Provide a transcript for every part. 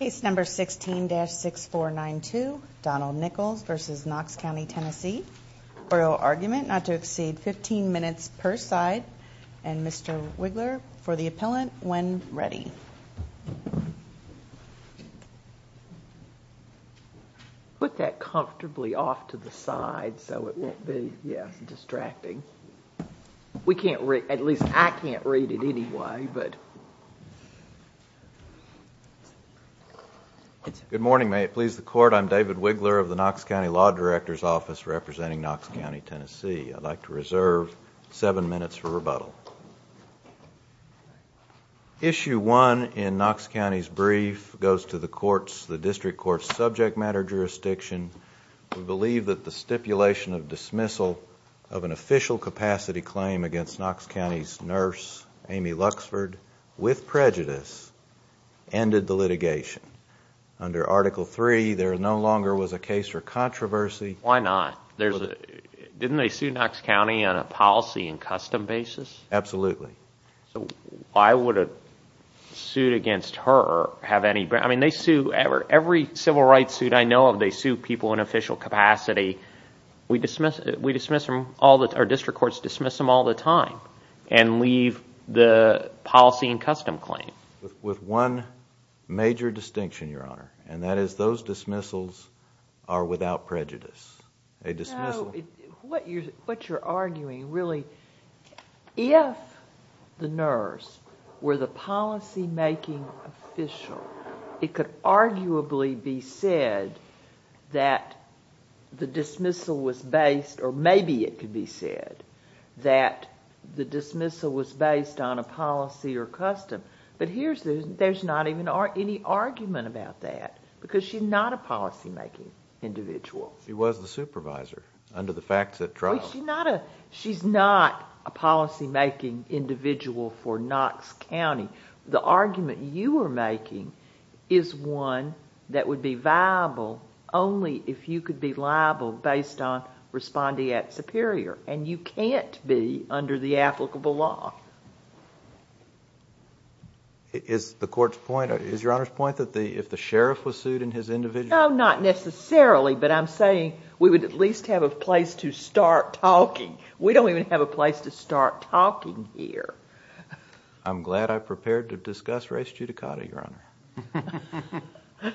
Case number 16-6492, Donald Nichols v. Knox County Tennessee. Oral argument not to exceed 15 minutes per side. And Mr. Wigler, for the appellant, when ready. Put that comfortably off to the side so it won't be distracting. At least I can't read it anyway. Good morning, may it please the court. I'm David Wigler of the Knox County Law Director's Office representing Knox County Tennessee. I'd like to reserve seven minutes for rebuttal. Issue one in Knox County's brief goes to the district court's subject matter jurisdiction. We believe that the stipulation of dismissal of an official capacity claim against Knox County's nurse, Amy Luxford, with prejudice, ended the litigation. Under Article III, there no longer was a case for controversy. Why not? Didn't they sue Knox County on a policy and custom basis? Absolutely. So why would a suit against her have any, I mean they sue, every civil rights suit I know of, they sue people in official capacity. We dismiss them, our district courts dismiss them all the time and leave the policy and custom claim. With one major distinction, your honor, and that is those dismissals are without prejudice. No, what you're arguing really, if the nurse were the policy making official, it could arguably be said that the dismissal was based, or maybe it could be said, that the dismissal was based on a policy or custom. But there's not even any argument about that because she's not a policy making individual. She was the supervisor under the facts at trial. She's not a policy making individual for Knox County. The argument you are making is one that would be viable only if you could be liable based on respondeat superior. And you can't be under the applicable law. Is the court's point, is your honor's point that if the sheriff was sued in his individual? Not necessarily, but I'm saying we would at least have a place to start talking. We don't even have a place to start talking here. I'm glad I prepared to discuss race judicata, your honor.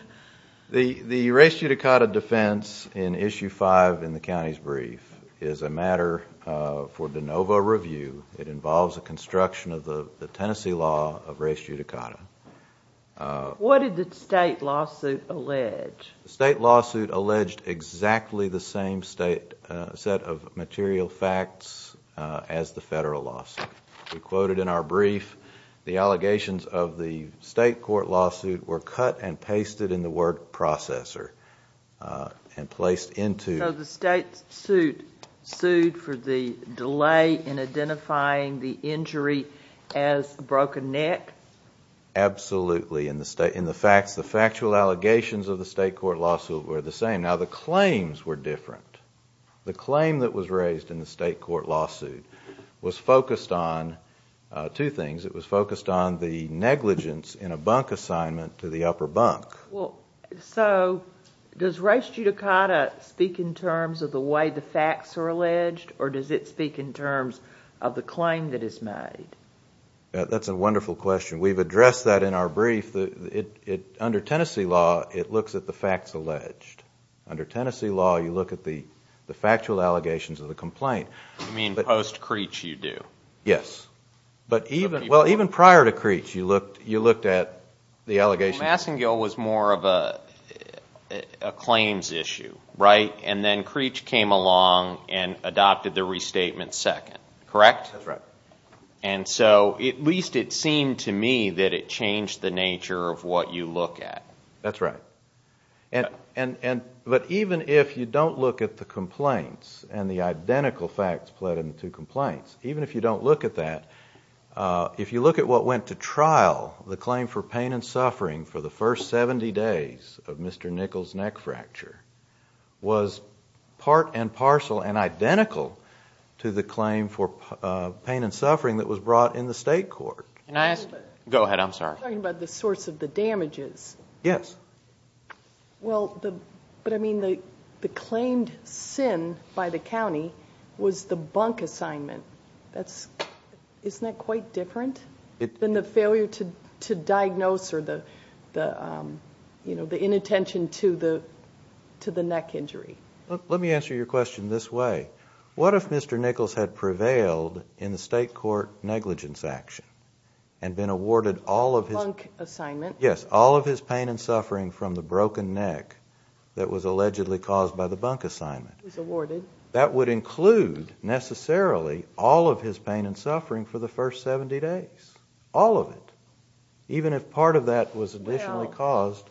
The race judicata defense in issue five in the county's brief is a matter for de novo review. It involves a construction of the Tennessee law of race judicata. What did the state lawsuit allege? The state lawsuit alleged exactly the same set of material facts as the federal lawsuit. We quoted in our brief the allegations of the state court lawsuit were cut and pasted in the word processor and placed into. So the state sued for the delay in identifying the injury as a broken neck? Absolutely. In the facts, the factual allegations of the state court lawsuit were the same. Now the claims were different. The claim that was raised in the state court lawsuit was focused on two things. It was focused on the negligence in a bunk assignment to the upper bunk. So does race judicata speak in terms of the way the facts are alleged or does it speak in terms of the claim that is made? That's a wonderful question. We've addressed that in our brief. Under Tennessee law, it looks at the facts alleged. Under Tennessee law, you look at the factual allegations of the complaint. You mean post-Creech you do? Yes. Well, even prior to Creech, you looked at the allegations. Massengill was more of a claims issue, right? And then Creech came along and adopted the restatement second, correct? That's right. And so at least it seemed to me that it changed the nature of what you look at. That's right. But even if you don't look at the complaints and the identical facts pled in the two complaints, even if you don't look at that, if you look at what went to trial, the claim for pain and suffering for the first 70 days of Mr. Nichols' neck fracture was part and parcel and identical to the claim for pain and suffering that was brought in the state court. Go ahead. I'm sorry. You're talking about the source of the damages. Yes. Well, but I mean the claimed sin by the county was the bunk assignment. Isn't that quite different than the failure to diagnose or the inattention to the neck injury? Let me answer your question this way. What if Mr. Nichols had prevailed in the state court negligence action and been awarded all of his pain and suffering from the broken neck that was allegedly caused by the bunk assignment? That would include, necessarily, all of his pain and suffering for the first 70 days. All of it. Even if part of that was additionally caused.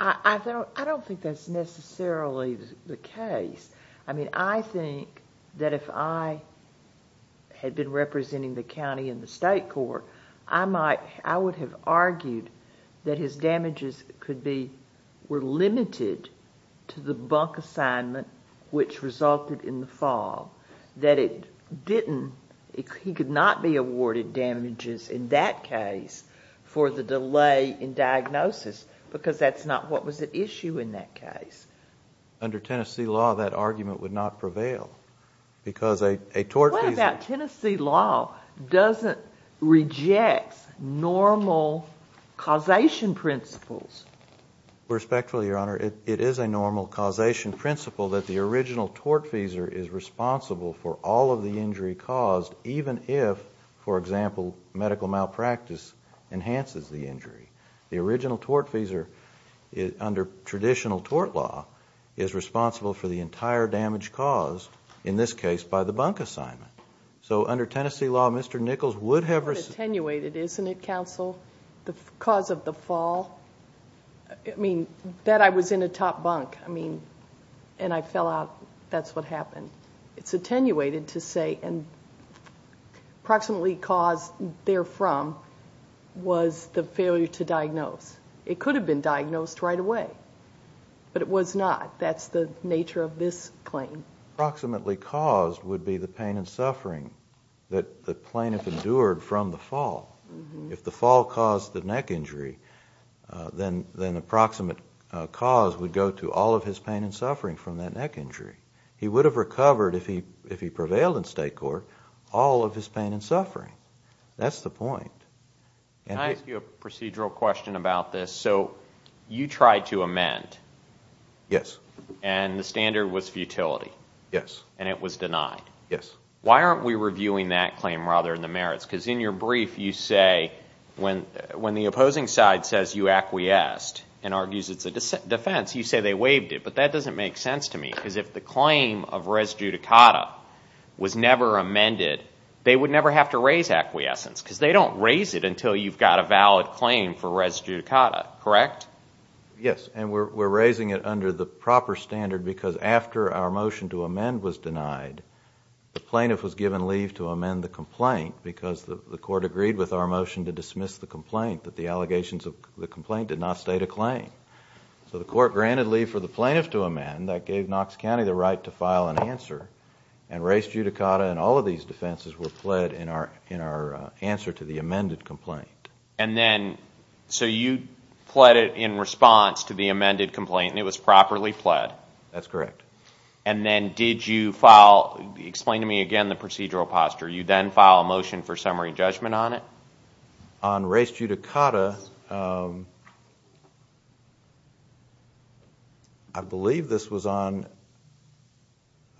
I don't think that's necessarily the case. I mean, I think that if I had been representing the county in the state court, I would have argued that his damages were limited to the bunk assignment, which resulted in the fall, that he could not be awarded damages in that case for the delay in diagnosis because that's not what was at issue in that case. Under Tennessee law, that argument would not prevail because a tortfeasor... What about Tennessee law doesn't reject normal causation principles? Respectfully, Your Honor, it is a normal causation principle that the original tortfeasor is responsible for all of the injury caused, even if, for example, medical malpractice enhances the injury. The original tortfeasor, under traditional tort law, is responsible for the entire damage caused, in this case, by the bunk assignment. So under Tennessee law, Mr. Nichols would have... It would have attenuated, isn't it, counsel, the cause of the fall? I mean, that I was in a top bunk, and I fell out, that's what happened. It's attenuated to say approximately caused therefrom was the failure to diagnose. It could have been diagnosed right away, but it was not. That's the nature of this claim. Approximately caused would be the pain and suffering that the plaintiff endured from the fall. If the fall caused the neck injury, then approximate cause would go to all of his pain and suffering from that neck injury. He would have recovered, if he prevailed in state court, all of his pain and suffering. That's the point. Can I ask you a procedural question about this? So you tried to amend. Yes. And the standard was futility. Yes. And it was denied. Yes. Why aren't we reviewing that claim rather than the merits? Because in your brief you say when the opposing side says you acquiesced and argues it's a defense, you say they waived it. But that doesn't make sense to me, because if the claim of res judicata was never amended, they would never have to raise acquiescence, because they don't raise it until you've got a valid claim for res judicata, correct? Yes, and we're raising it under the proper standard, because after our motion to amend was denied, the plaintiff was given leave to amend the complaint, because the court agreed with our motion to dismiss the complaint that the allegations of the complaint did not state a claim. So the court granted leave for the plaintiff to amend. That gave Knox County the right to file an answer, and res judicata and all of these defenses were pled in our answer to the amended complaint. And then, so you pled it in response to the amended complaint, and it was properly pled? That's correct. And then did you file, explain to me again the procedural posture. You then file a motion for summary judgment on it? On res judicata, I believe this was on,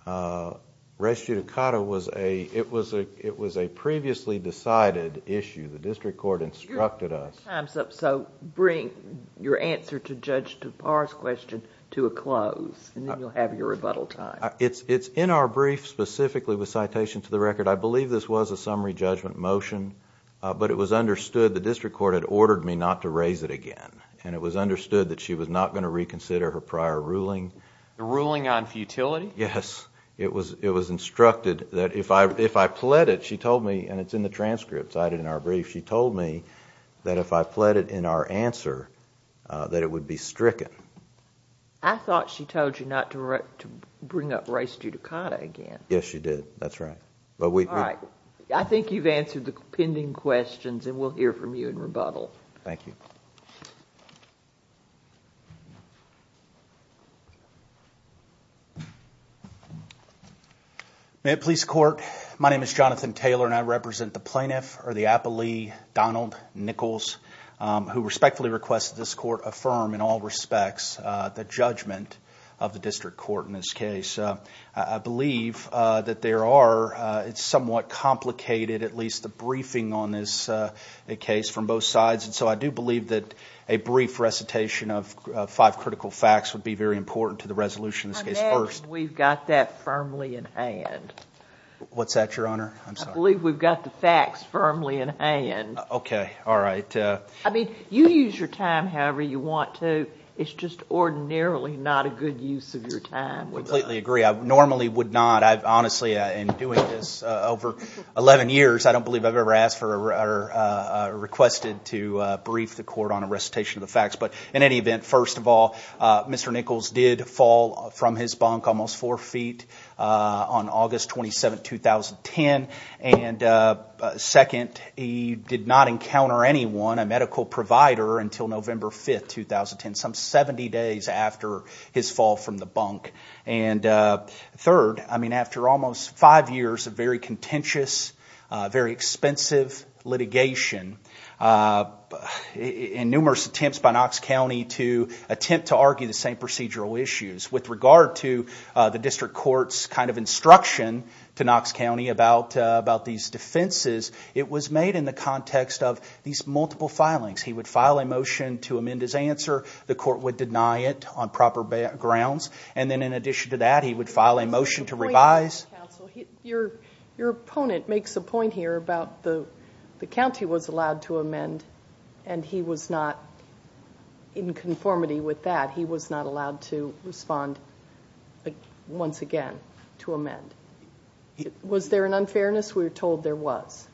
res judicata was a, it was a previously decided issue. The district court instructed us. Your time's up, so bring your answer to Judge DePauw's question to a close, and then you'll have your rebuttal time. It's in our brief specifically with citation to the record. I believe this was a summary judgment motion, but it was understood the district court had ordered me not to raise it again, and it was understood that she was not going to reconsider her prior ruling. The ruling on futility? Yes, it was instructed that if I pled it, she told me, and it's in the transcript cited in our brief, she told me that if I pled it in our answer that it would be stricken. I thought she told you not to bring up res judicata again. Yes, she did. That's right. All right. I think you've answered the pending questions, and we'll hear from you in rebuttal. Thank you. May it please the court? My name is Jonathan Taylor, and I represent the plaintiff, or the appellee, Donald Nichols, who respectfully requests that this court affirm in all respects the judgment of the district court in this case. I believe that there are somewhat complicated, at least the briefing on this case from both sides, and so I do believe that a brief recitation of five critical facts would be very important to the resolution of this case first. I imagine we've got that firmly in hand. What's that, Your Honor? I believe we've got the facts firmly in hand. Okay. All right. I mean, you use your time however you want to. It's just ordinarily not a good use of your time. I completely agree. I normally would not. Honestly, in doing this over 11 years, I don't believe I've ever asked or requested to brief the court on a recitation of the facts. But in any event, first of all, Mr. Nichols did fall from his bunk almost four feet on August 27, 2010. And second, he did not encounter anyone, a medical provider, until November 5, 2010, some 70 days after his fall from the bunk. And third, I mean, after almost five years of very contentious, very expensive litigation and numerous attempts by Knox County to attempt to argue the same procedural issues. With regard to the district court's kind of instruction to Knox County about these defenses, it was made in the context of these multiple filings. He would file a motion to amend his answer. The court would deny it on proper grounds. And then in addition to that, he would file a motion to revise. Your opponent makes a point here about the county was allowed to amend, and he was not in conformity with that. He was not allowed to respond once again to amend. Was there an unfairness? We were told there was.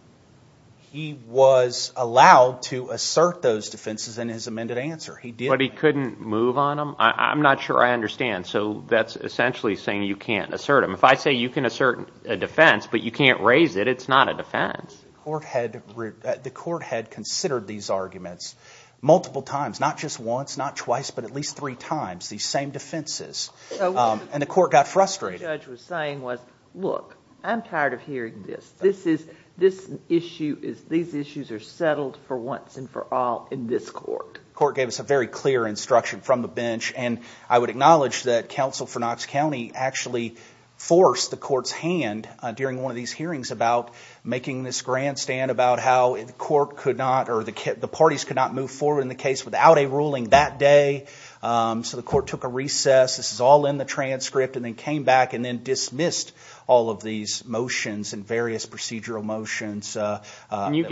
He was allowed to assert those defenses in his amended answer. But he couldn't move on them? I'm not sure I understand. So that's essentially saying you can't assert them. If I say you can assert a defense but you can't raise it, it's not a defense. The court had considered these arguments multiple times, not just once, not twice, but at least three times, these same defenses. And the court got frustrated. What the judge was saying was, look, I'm tired of hearing this. These issues are settled for once and for all in this court. The court gave us a very clear instruction from the bench. And I would acknowledge that counsel for Knox County actually forced the court's hand during one of these hearings about making this grandstand about how the court could not or the parties could not move forward in the case without a ruling that day. So the court took a recess. This is all in the transcript, and then came back and then dismissed all of these motions and various procedural motions. Can you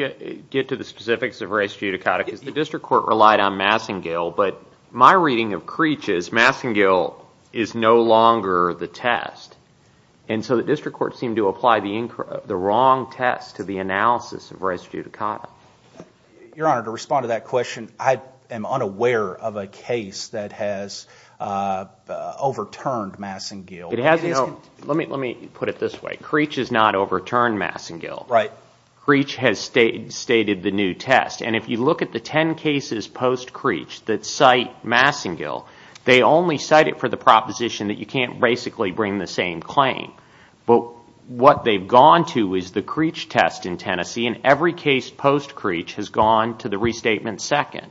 get to the specifics of race judicata? The district court relied on Massengill, but my reading of Creech is Massengill is no longer the test. And so the district court seemed to apply the wrong test to the analysis of race judicata. Your Honor, to respond to that question, I am unaware of a case that has overturned Massengill. Let me put it this way. Creech has not overturned Massengill. Creech has stated the new test. And if you look at the 10 cases post Creech that cite Massengill, they only cite it for the proposition that you can't basically bring the same claim. But what they've gone to is the Creech test in Tennessee, and every case post Creech has gone to the restatement second.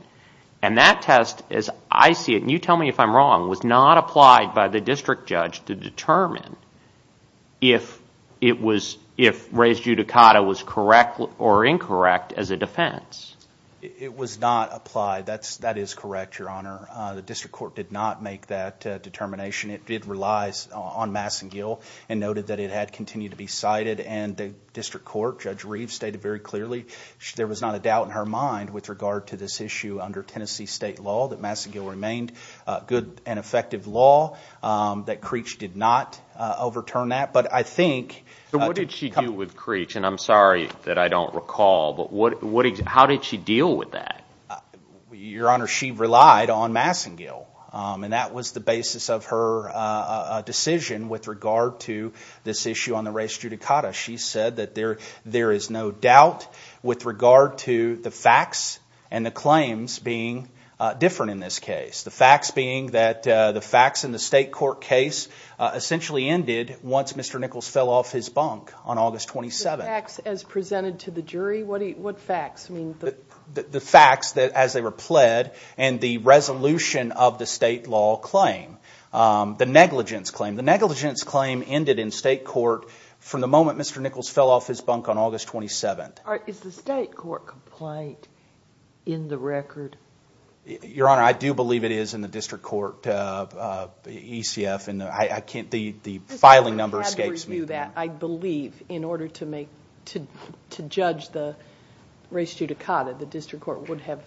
And that test, as I see it, and you tell me if I'm wrong, was not applied by the district judge to determine if race judicata was correct or incorrect as a defense. It was not applied. That is correct, Your Honor. The district court did not make that determination. It did rely on Massengill and noted that it had continued to be cited, and the district court, Judge Reeves, stated very clearly there was not a doubt in her mind with regard to this issue under Tennessee state law that Massengill remained a good and effective law, that Creech did not overturn that. But I think – So what did she do with Creech? And I'm sorry that I don't recall, but how did she deal with that? Your Honor, she relied on Massengill, and that was the basis of her decision with regard to this issue on the race judicata. She said that there is no doubt with regard to the facts and the claims being different in this case, the facts being that the facts in the state court case essentially ended once Mr. Nichols fell off his bunk on August 27th. The facts as presented to the jury? What facts? The facts as they were pled and the resolution of the state law claim, the negligence claim. The negligence claim ended in state court from the moment Mr. Nichols fell off his bunk on August 27th. Is the state court complaint in the record? Your Honor, I do believe it is in the district court ECF. The filing number escapes me. I believe in order to judge the race judicata, the district court would have,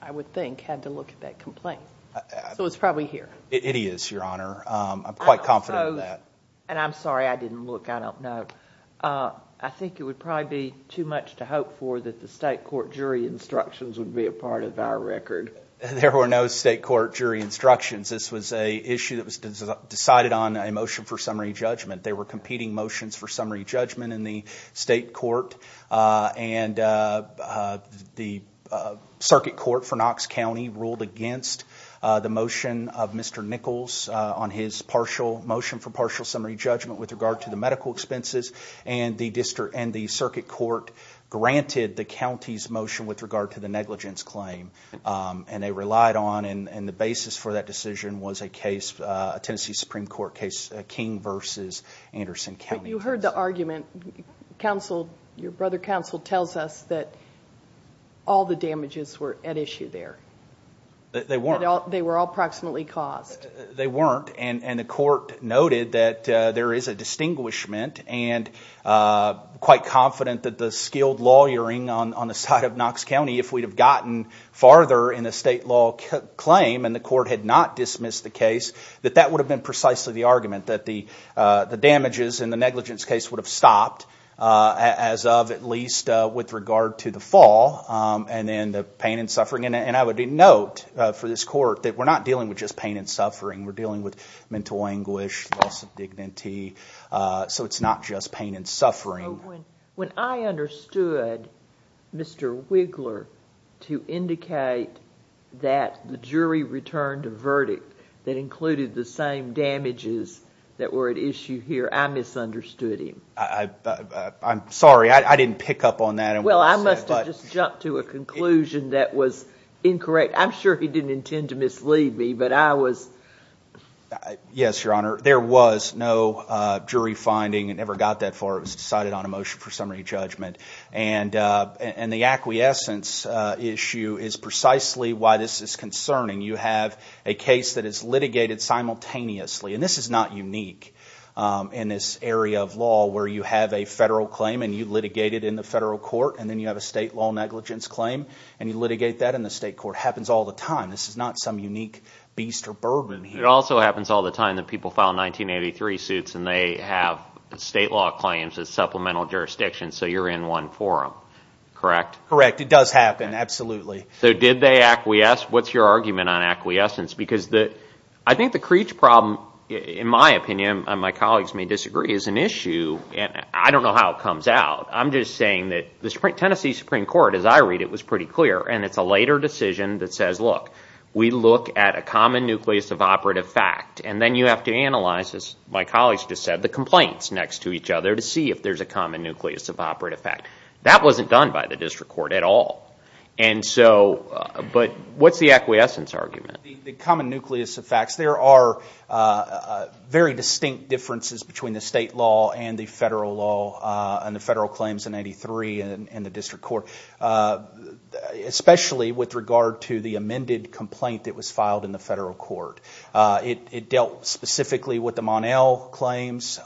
I would think, had to look at that complaint. So it's probably here. It is, Your Honor. I'm quite confident of that. And I'm sorry I didn't look. I don't know. I think it would probably be too much to hope for that the state court jury instructions would be a part of our record. There were no state court jury instructions. This was an issue that was decided on a motion for summary judgment. There were competing motions for summary judgment in the state court, and the circuit court for Knox County ruled against the motion of Mr. Nichols on his motion for partial summary judgment with regard to the medical expenses, and the circuit court granted the county's motion with regard to the negligence claim, and they relied on it. And the basis for that decision was a Tennessee Supreme Court case, King v. Anderson County. You heard the argument. Counsel, your brother counsel, tells us that all the damages were at issue there. They weren't. They were all proximately caused. They weren't, and the court noted that there is a distinguishment and quite confident that the skilled lawyering on the side of Knox County, if we'd have gotten farther in the state law claim and the court had not dismissed the case, that that would have been precisely the argument that the damages in the negligence case would have stopped, as of at least with regard to the fall and then the pain and suffering. And I would note for this court that we're not dealing with just pain and suffering. We're dealing with mental anguish, loss of dignity, so it's not just pain and suffering. When I understood Mr. Wiggler to indicate that the jury returned a verdict that included the same damages that were at issue here, I misunderstood him. I'm sorry. I didn't pick up on that. Well, I must have just jumped to a conclusion that was incorrect. I'm sure he didn't intend to mislead me, but I was— Yes, Your Honor. There was no jury finding and never got that far. It was decided on a motion for summary judgment. And the acquiescence issue is precisely why this is concerning. You have a case that is litigated simultaneously, and this is not unique in this area of law where you have a federal claim and you litigate it in the federal court and then you have a state law negligence claim and you litigate that in the state court. It happens all the time. This is not some unique beast or birdman here. But it also happens all the time that people file 1983 suits and they have state law claims as supplemental jurisdiction, so you're in one for them. Correct? Correct. It does happen, absolutely. So did they acquiesce? What's your argument on acquiescence? Because I think the Creech problem, in my opinion, and my colleagues may disagree, is an issue, and I don't know how it comes out. I'm just saying that the Tennessee Supreme Court, as I read it, was pretty clear, and it's a later decision that says, look, we look at a common nucleus of operative fact, and then you have to analyze, as my colleagues just said, the complaints next to each other to see if there's a common nucleus of operative fact. That wasn't done by the district court at all. But what's the acquiescence argument? The common nucleus of facts. There are very distinct differences between the state law and the federal law in 1983 and the district court, especially with regard to the amended complaint that was filed in the federal court. It dealt specifically with the Mon-El claims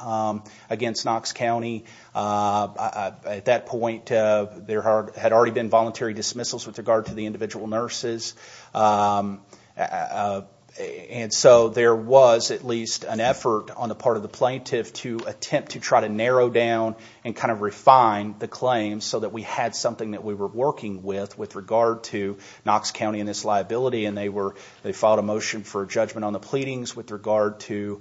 against Knox County. At that point, there had already been voluntary dismissals with regard to the individual nurses, and so there was at least an effort on the part of the plaintiff to attempt to try to narrow down and kind of refine the claims so that we had something that we were working with with regard to Knox County and its liability, and they filed a motion for judgment on the pleadings with regard to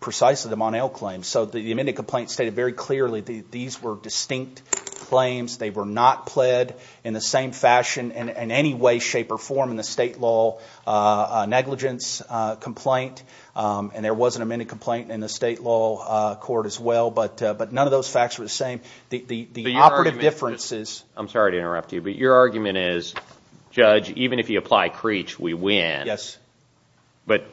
precisely the Mon-El claims. So the amended complaint stated very clearly that these were distinct claims. They were not pled in the same fashion in any way, shape, or form in the state law negligence complaint, and there was an amended complaint in the state law court as well, but none of those facts were the same. The operative differences— I'm sorry to interrupt you, but your argument is, Judge, even if you apply Creech, we win. Yes. But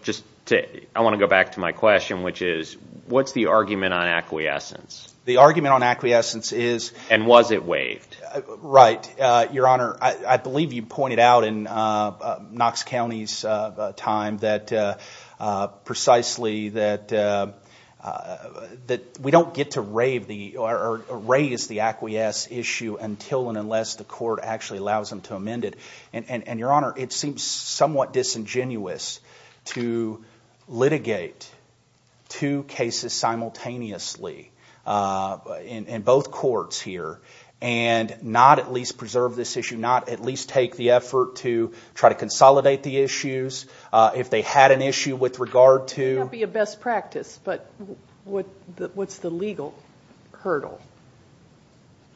I want to go back to my question, which is, what's the argument on acquiescence? The argument on acquiescence is— And was it waived? Right. Your Honor, I believe you pointed out in Knox County's time precisely that we don't get to raise the acquiesce issue until and unless the court actually allows them to amend it, and, Your Honor, it seems somewhat disingenuous to litigate two cases simultaneously in both courts here and not at least preserve this issue, not at least take the effort to try to consolidate the issues. If they had an issue with regard to— It would not be a best practice, but what's the legal hurdle?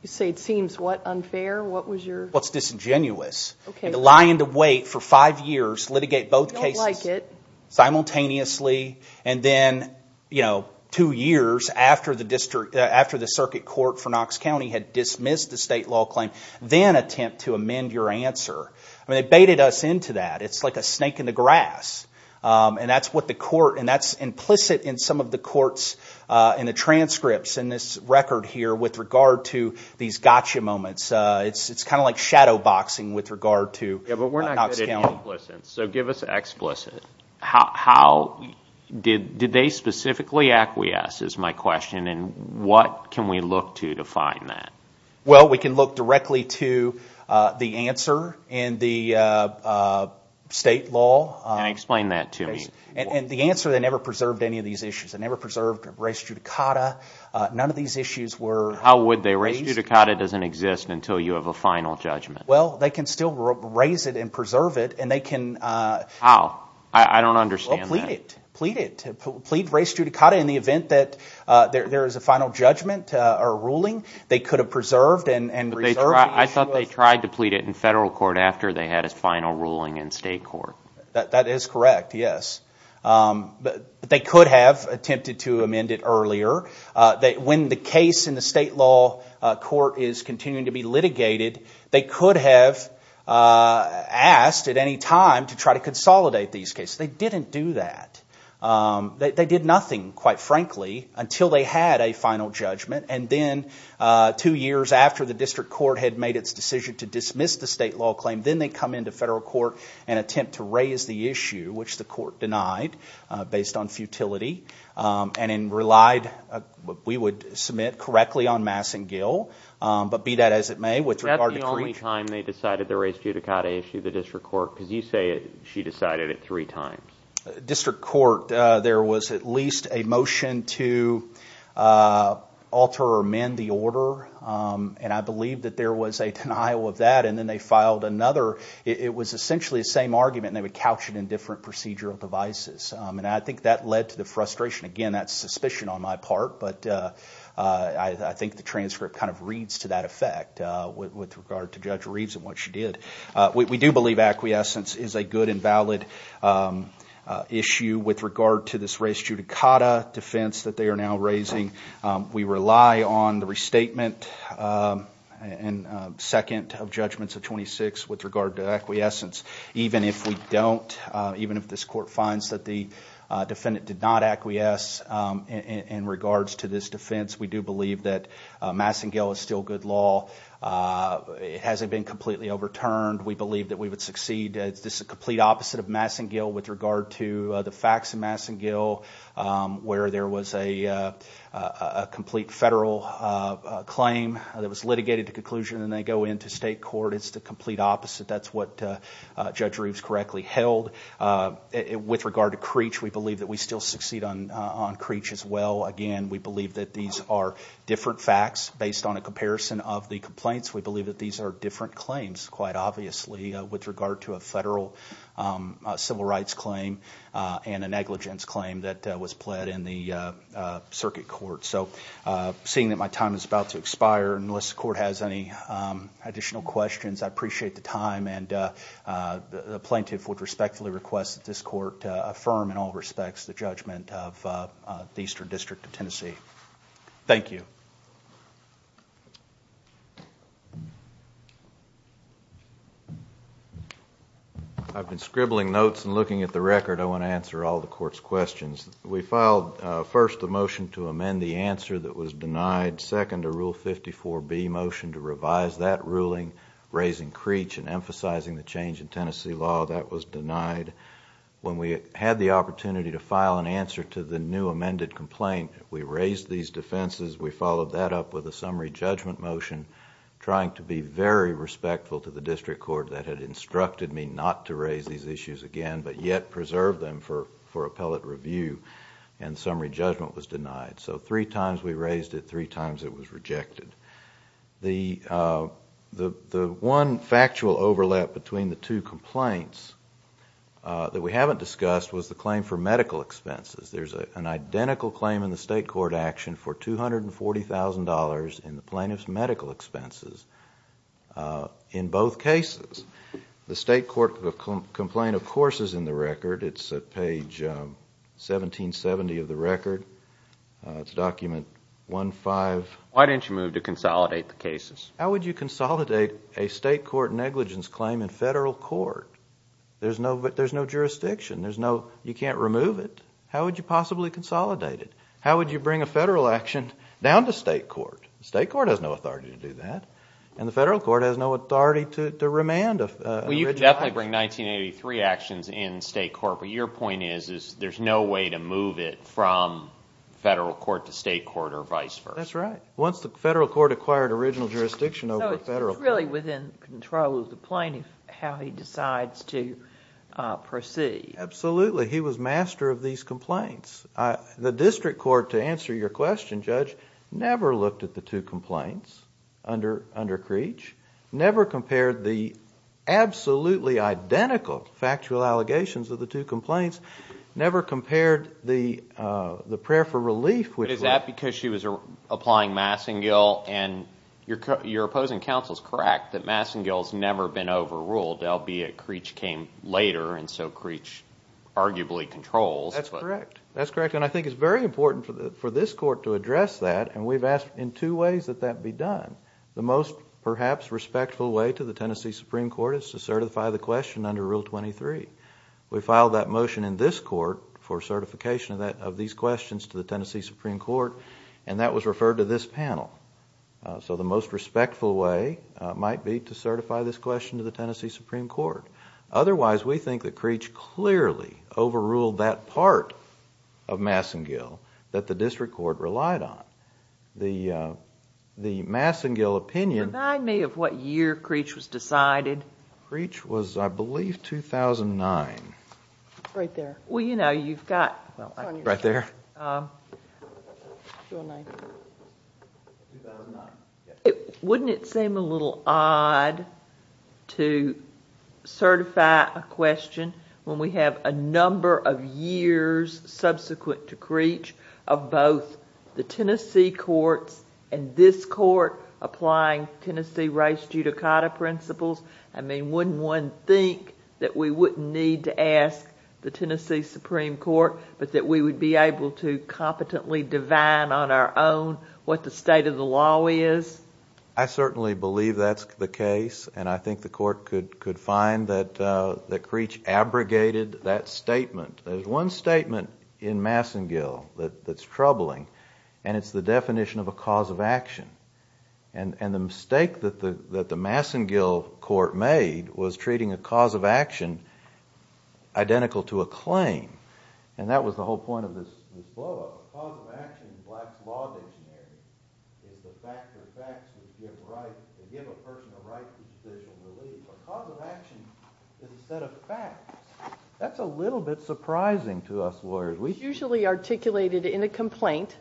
You say it seems, what, unfair? What was your— Well, it's disingenuous. Okay. Lying to wait for five years, litigate both cases simultaneously, and then two years after the circuit court for Knox County had dismissed the state law claim, then attempt to amend your answer. I mean they baited us into that. It's like a snake in the grass, and that's what the court— and that's implicit in some of the courts in the transcripts in this record here with regard to these gotcha moments. It's kind of like shadow boxing with regard to Knox County. Yeah, but we're not good at implicit, so give us explicit. How—did they specifically acquiesce is my question, and what can we look to to find that? Well, we can look directly to the answer in the state law. Explain that to me. The answer, they never preserved any of these issues. They never preserved res judicata. None of these issues were— How would they? Res judicata doesn't exist until you have a final judgment. Well, they can still raise it and preserve it, and they can— How? I don't understand that. Well, plead it. Plead res judicata in the event that there is a final judgment or ruling. They could have preserved and reserved the issue. I thought they tried to plead it in federal court after they had a final ruling in state court. That is correct, yes. But they could have attempted to amend it earlier. When the case in the state law court is continuing to be litigated, they could have asked at any time to try to consolidate these cases. They didn't do that. They did nothing, quite frankly, until they had a final judgment, and then two years after the district court had made its decision to dismiss the state law claim, then they come into federal court and attempt to raise the issue, which the court denied based on futility, and then relied—we would submit correctly on Mass and Gill, but be that as it may, with regard to— Is that the only time they decided to raise judicata issue, the district court? Because you say she decided it three times. District court, there was at least a motion to alter or amend the order, and I believe that there was a denial of that, and then they filed another. It was essentially the same argument, and they would couch it in different procedural devices, and I think that led to the frustration. Again, that's suspicion on my part, but I think the transcript kind of reads to that effect with regard to Judge Reeves and what she did. We do believe acquiescence is a good and valid issue with regard to this raised judicata defense that they are now raising. We rely on the restatement and second of judgments of 26 with regard to acquiescence. Even if we don't, even if this court finds that the defendant did not acquiesce in regards to this defense, we do believe that Mass and Gill is still good law. It hasn't been completely overturned. We believe that we would succeed. This is the complete opposite of Mass and Gill with regard to the facts of Mass and Gill where there was a complete federal claim that was litigated to conclusion, and then they go into state court. It's the complete opposite. That's what Judge Reeves correctly held. With regard to Creech, we believe that we still succeed on Creech as well. Again, we believe that these are different facts based on a comparison of the complaints. We believe that these are different claims, quite obviously, with regard to a federal civil rights claim and a negligence claim that was pled in the circuit court. Seeing that my time is about to expire, unless the court has any additional questions, I appreciate the time, and the plaintiff would respectfully request that this court affirm in all respects the judgment of the Eastern District of Tennessee. Thank you. I've been scribbling notes and looking at the record. I want to answer all the court's questions. We filed first a motion to amend the answer that was denied, second a Rule 54B motion to revise that ruling, raising Creech and emphasizing the change in Tennessee law that was denied. When we had the opportunity to file an answer to the new amended complaint, we raised these defenses. We followed that up with a summary judgment motion, trying to be very respectful to the district court that had instructed me not to raise these issues again but yet preserve them for appellate review, and the summary judgment was denied. So three times we raised it, three times it was rejected. The one factual overlap between the two complaints that we haven't discussed was the claim for medical expenses. There's an identical claim in the state court action for $240,000 in the plaintiff's medical expenses in both cases. The state court complaint, of course, is in the record. It's page 1770 of the record. It's document 15. Why didn't you move to consolidate the cases? How would you consolidate a state court negligence claim in federal court? There's no jurisdiction. You can't remove it. How would you possibly consolidate it? How would you bring a federal action down to state court? State court has no authority to do that, and the federal court has no authority to remand an original action. Well, you could definitely bring 1983 actions in state court, but your point is there's no way to move it from federal court to state court or vice versa. That's right. Once the federal court acquired original jurisdiction over the federal court. So it's really within control of the plaintiff how he decides to proceed. Absolutely. He was master of these complaints. The district court, to answer your question, Judge, never looked at the two complaints under Creech, never compared the absolutely identical factual allegations of the two complaints, never compared the prayer for relief. Is that because she was applying Massengill, and your opposing counsel is correct that Massengill has never been overruled, albeit Creech came later, and so Creech arguably controls. That's correct. That's correct, and I think it's very important for this court to address that, and we've asked in two ways that that be done. The most perhaps respectful way to the Tennessee Supreme Court is to certify the question under Rule 23. We filed that motion in this court for certification of these questions to the Tennessee Supreme Court, and that was referred to this panel. So the most respectful way might be to certify this question to the Tennessee Supreme Court. Otherwise, we think that Creech clearly overruled that part of Massengill that the district court relied on. The Massengill opinion... Remind me of what year Creech was decided. Creech was, I believe, 2009. Right there. Well, you know, you've got... Right there. 2009. 2009. Wouldn't it seem a little odd to certify a question when we have a number of years subsequent to Creech of both the Tennessee courts and this court applying Tennessee race judicata principles? I mean, wouldn't one think that we wouldn't need to ask the Tennessee Supreme Court, but that we would be able to competently divine on our own what the state of the law is? I certainly believe that's the case, and I think the court could find that Creech abrogated that statement. There's one statement in Massengill that's troubling, and it's the definition of a cause of action. And the mistake that the Massengill court made was treating a cause of action identical to a claim. And that was the whole point of this blowup. A cause of action in black law engineering is the fact that facts give a person the right to judicial relief. A cause of action instead of facts. That's a little bit surprising to us lawyers. It's usually articulated in a complaint,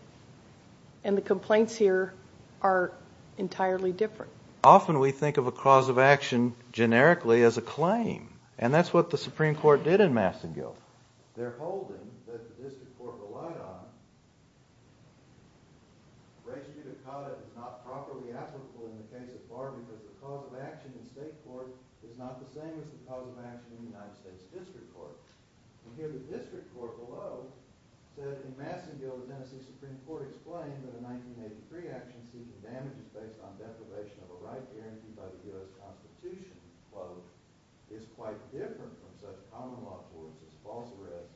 and the complaints here are entirely different. Often we think of a cause of action generically as a claim, and that's what the Supreme Court did in Massengill. They're holding that the district court relied on. Reggie Mutacata is not properly applicable in the case of Barney, but the cause of action in state court is not the same as the cause of action in the United States district court. And here the district court below says in Massengill the Tennessee Supreme Court explained that a 1983 action seeking damages based on deprivation of a right guaranteed by the Bureau of Constitution is quite different from such common law forms as false arrest,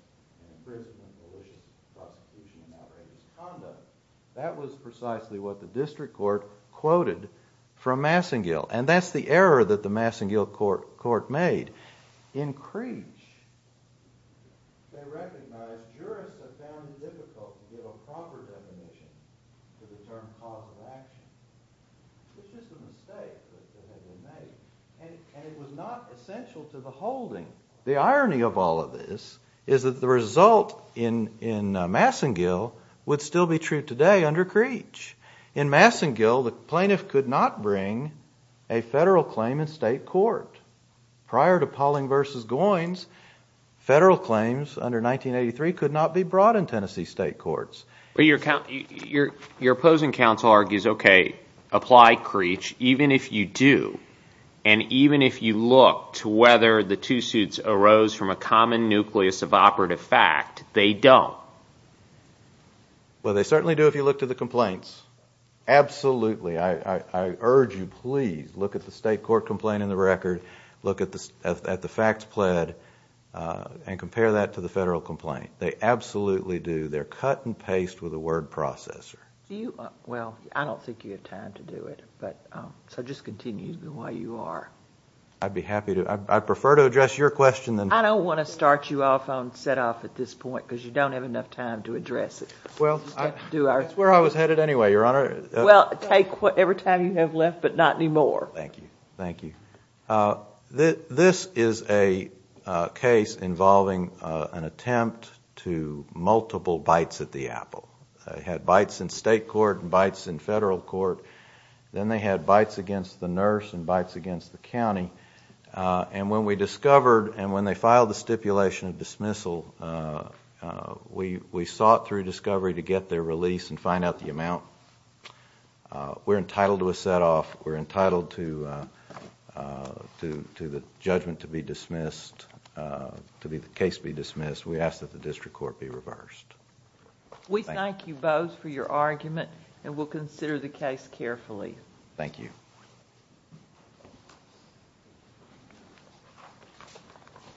imprisonment, deletion, prosecution, and outrageous conduct. That was precisely what the district court quoted from Massengill. And that's the error that the Massengill court made. In Creech, they recognized jurists have found it difficult to give a proper definition to the term cause of action. It's just a mistake that they made, and it was not essential to the holding. The irony of all of this is that the result in Massengill would still be true today under Creech. In Massengill, the plaintiff could not bring a federal claim in state court. Prior to Pauling v. Goins, federal claims under 1983 could not be brought in Tennessee state courts. But your opposing counsel argues, okay, apply Creech even if you do, and even if you look to whether the two suits arose from a common nucleus of operative fact, they don't. Well, they certainly do if you look to the complaints. Absolutely. I urge you, please, look at the state court complaint in the record, look at the facts pled, and compare that to the federal complaint. They absolutely do. They're cut and paste with a word processor. Well, I don't think you have time to do it, so just continue the way you are. I'd be happy to. I prefer to address your question. I don't want to start you off on set-off at this point because you don't have enough time to address it. Well, that's where I was headed anyway, Your Honor. Well, take whatever time you have left, but not anymore. Thank you. Thank you. This is a case involving an attempt to multiple bites at the apple. They had bites in state court and bites in federal court. Then they had bites against the nurse and bites against the county. And when we discovered and when they filed the stipulation of dismissal, we sought through discovery to get their release and find out the amount. We're entitled to a set-off. We're entitled to the judgment to be dismissed, to the case be dismissed. We ask that the district court be reversed. We thank you both for your argument, and we'll consider the case carefully. Thank you.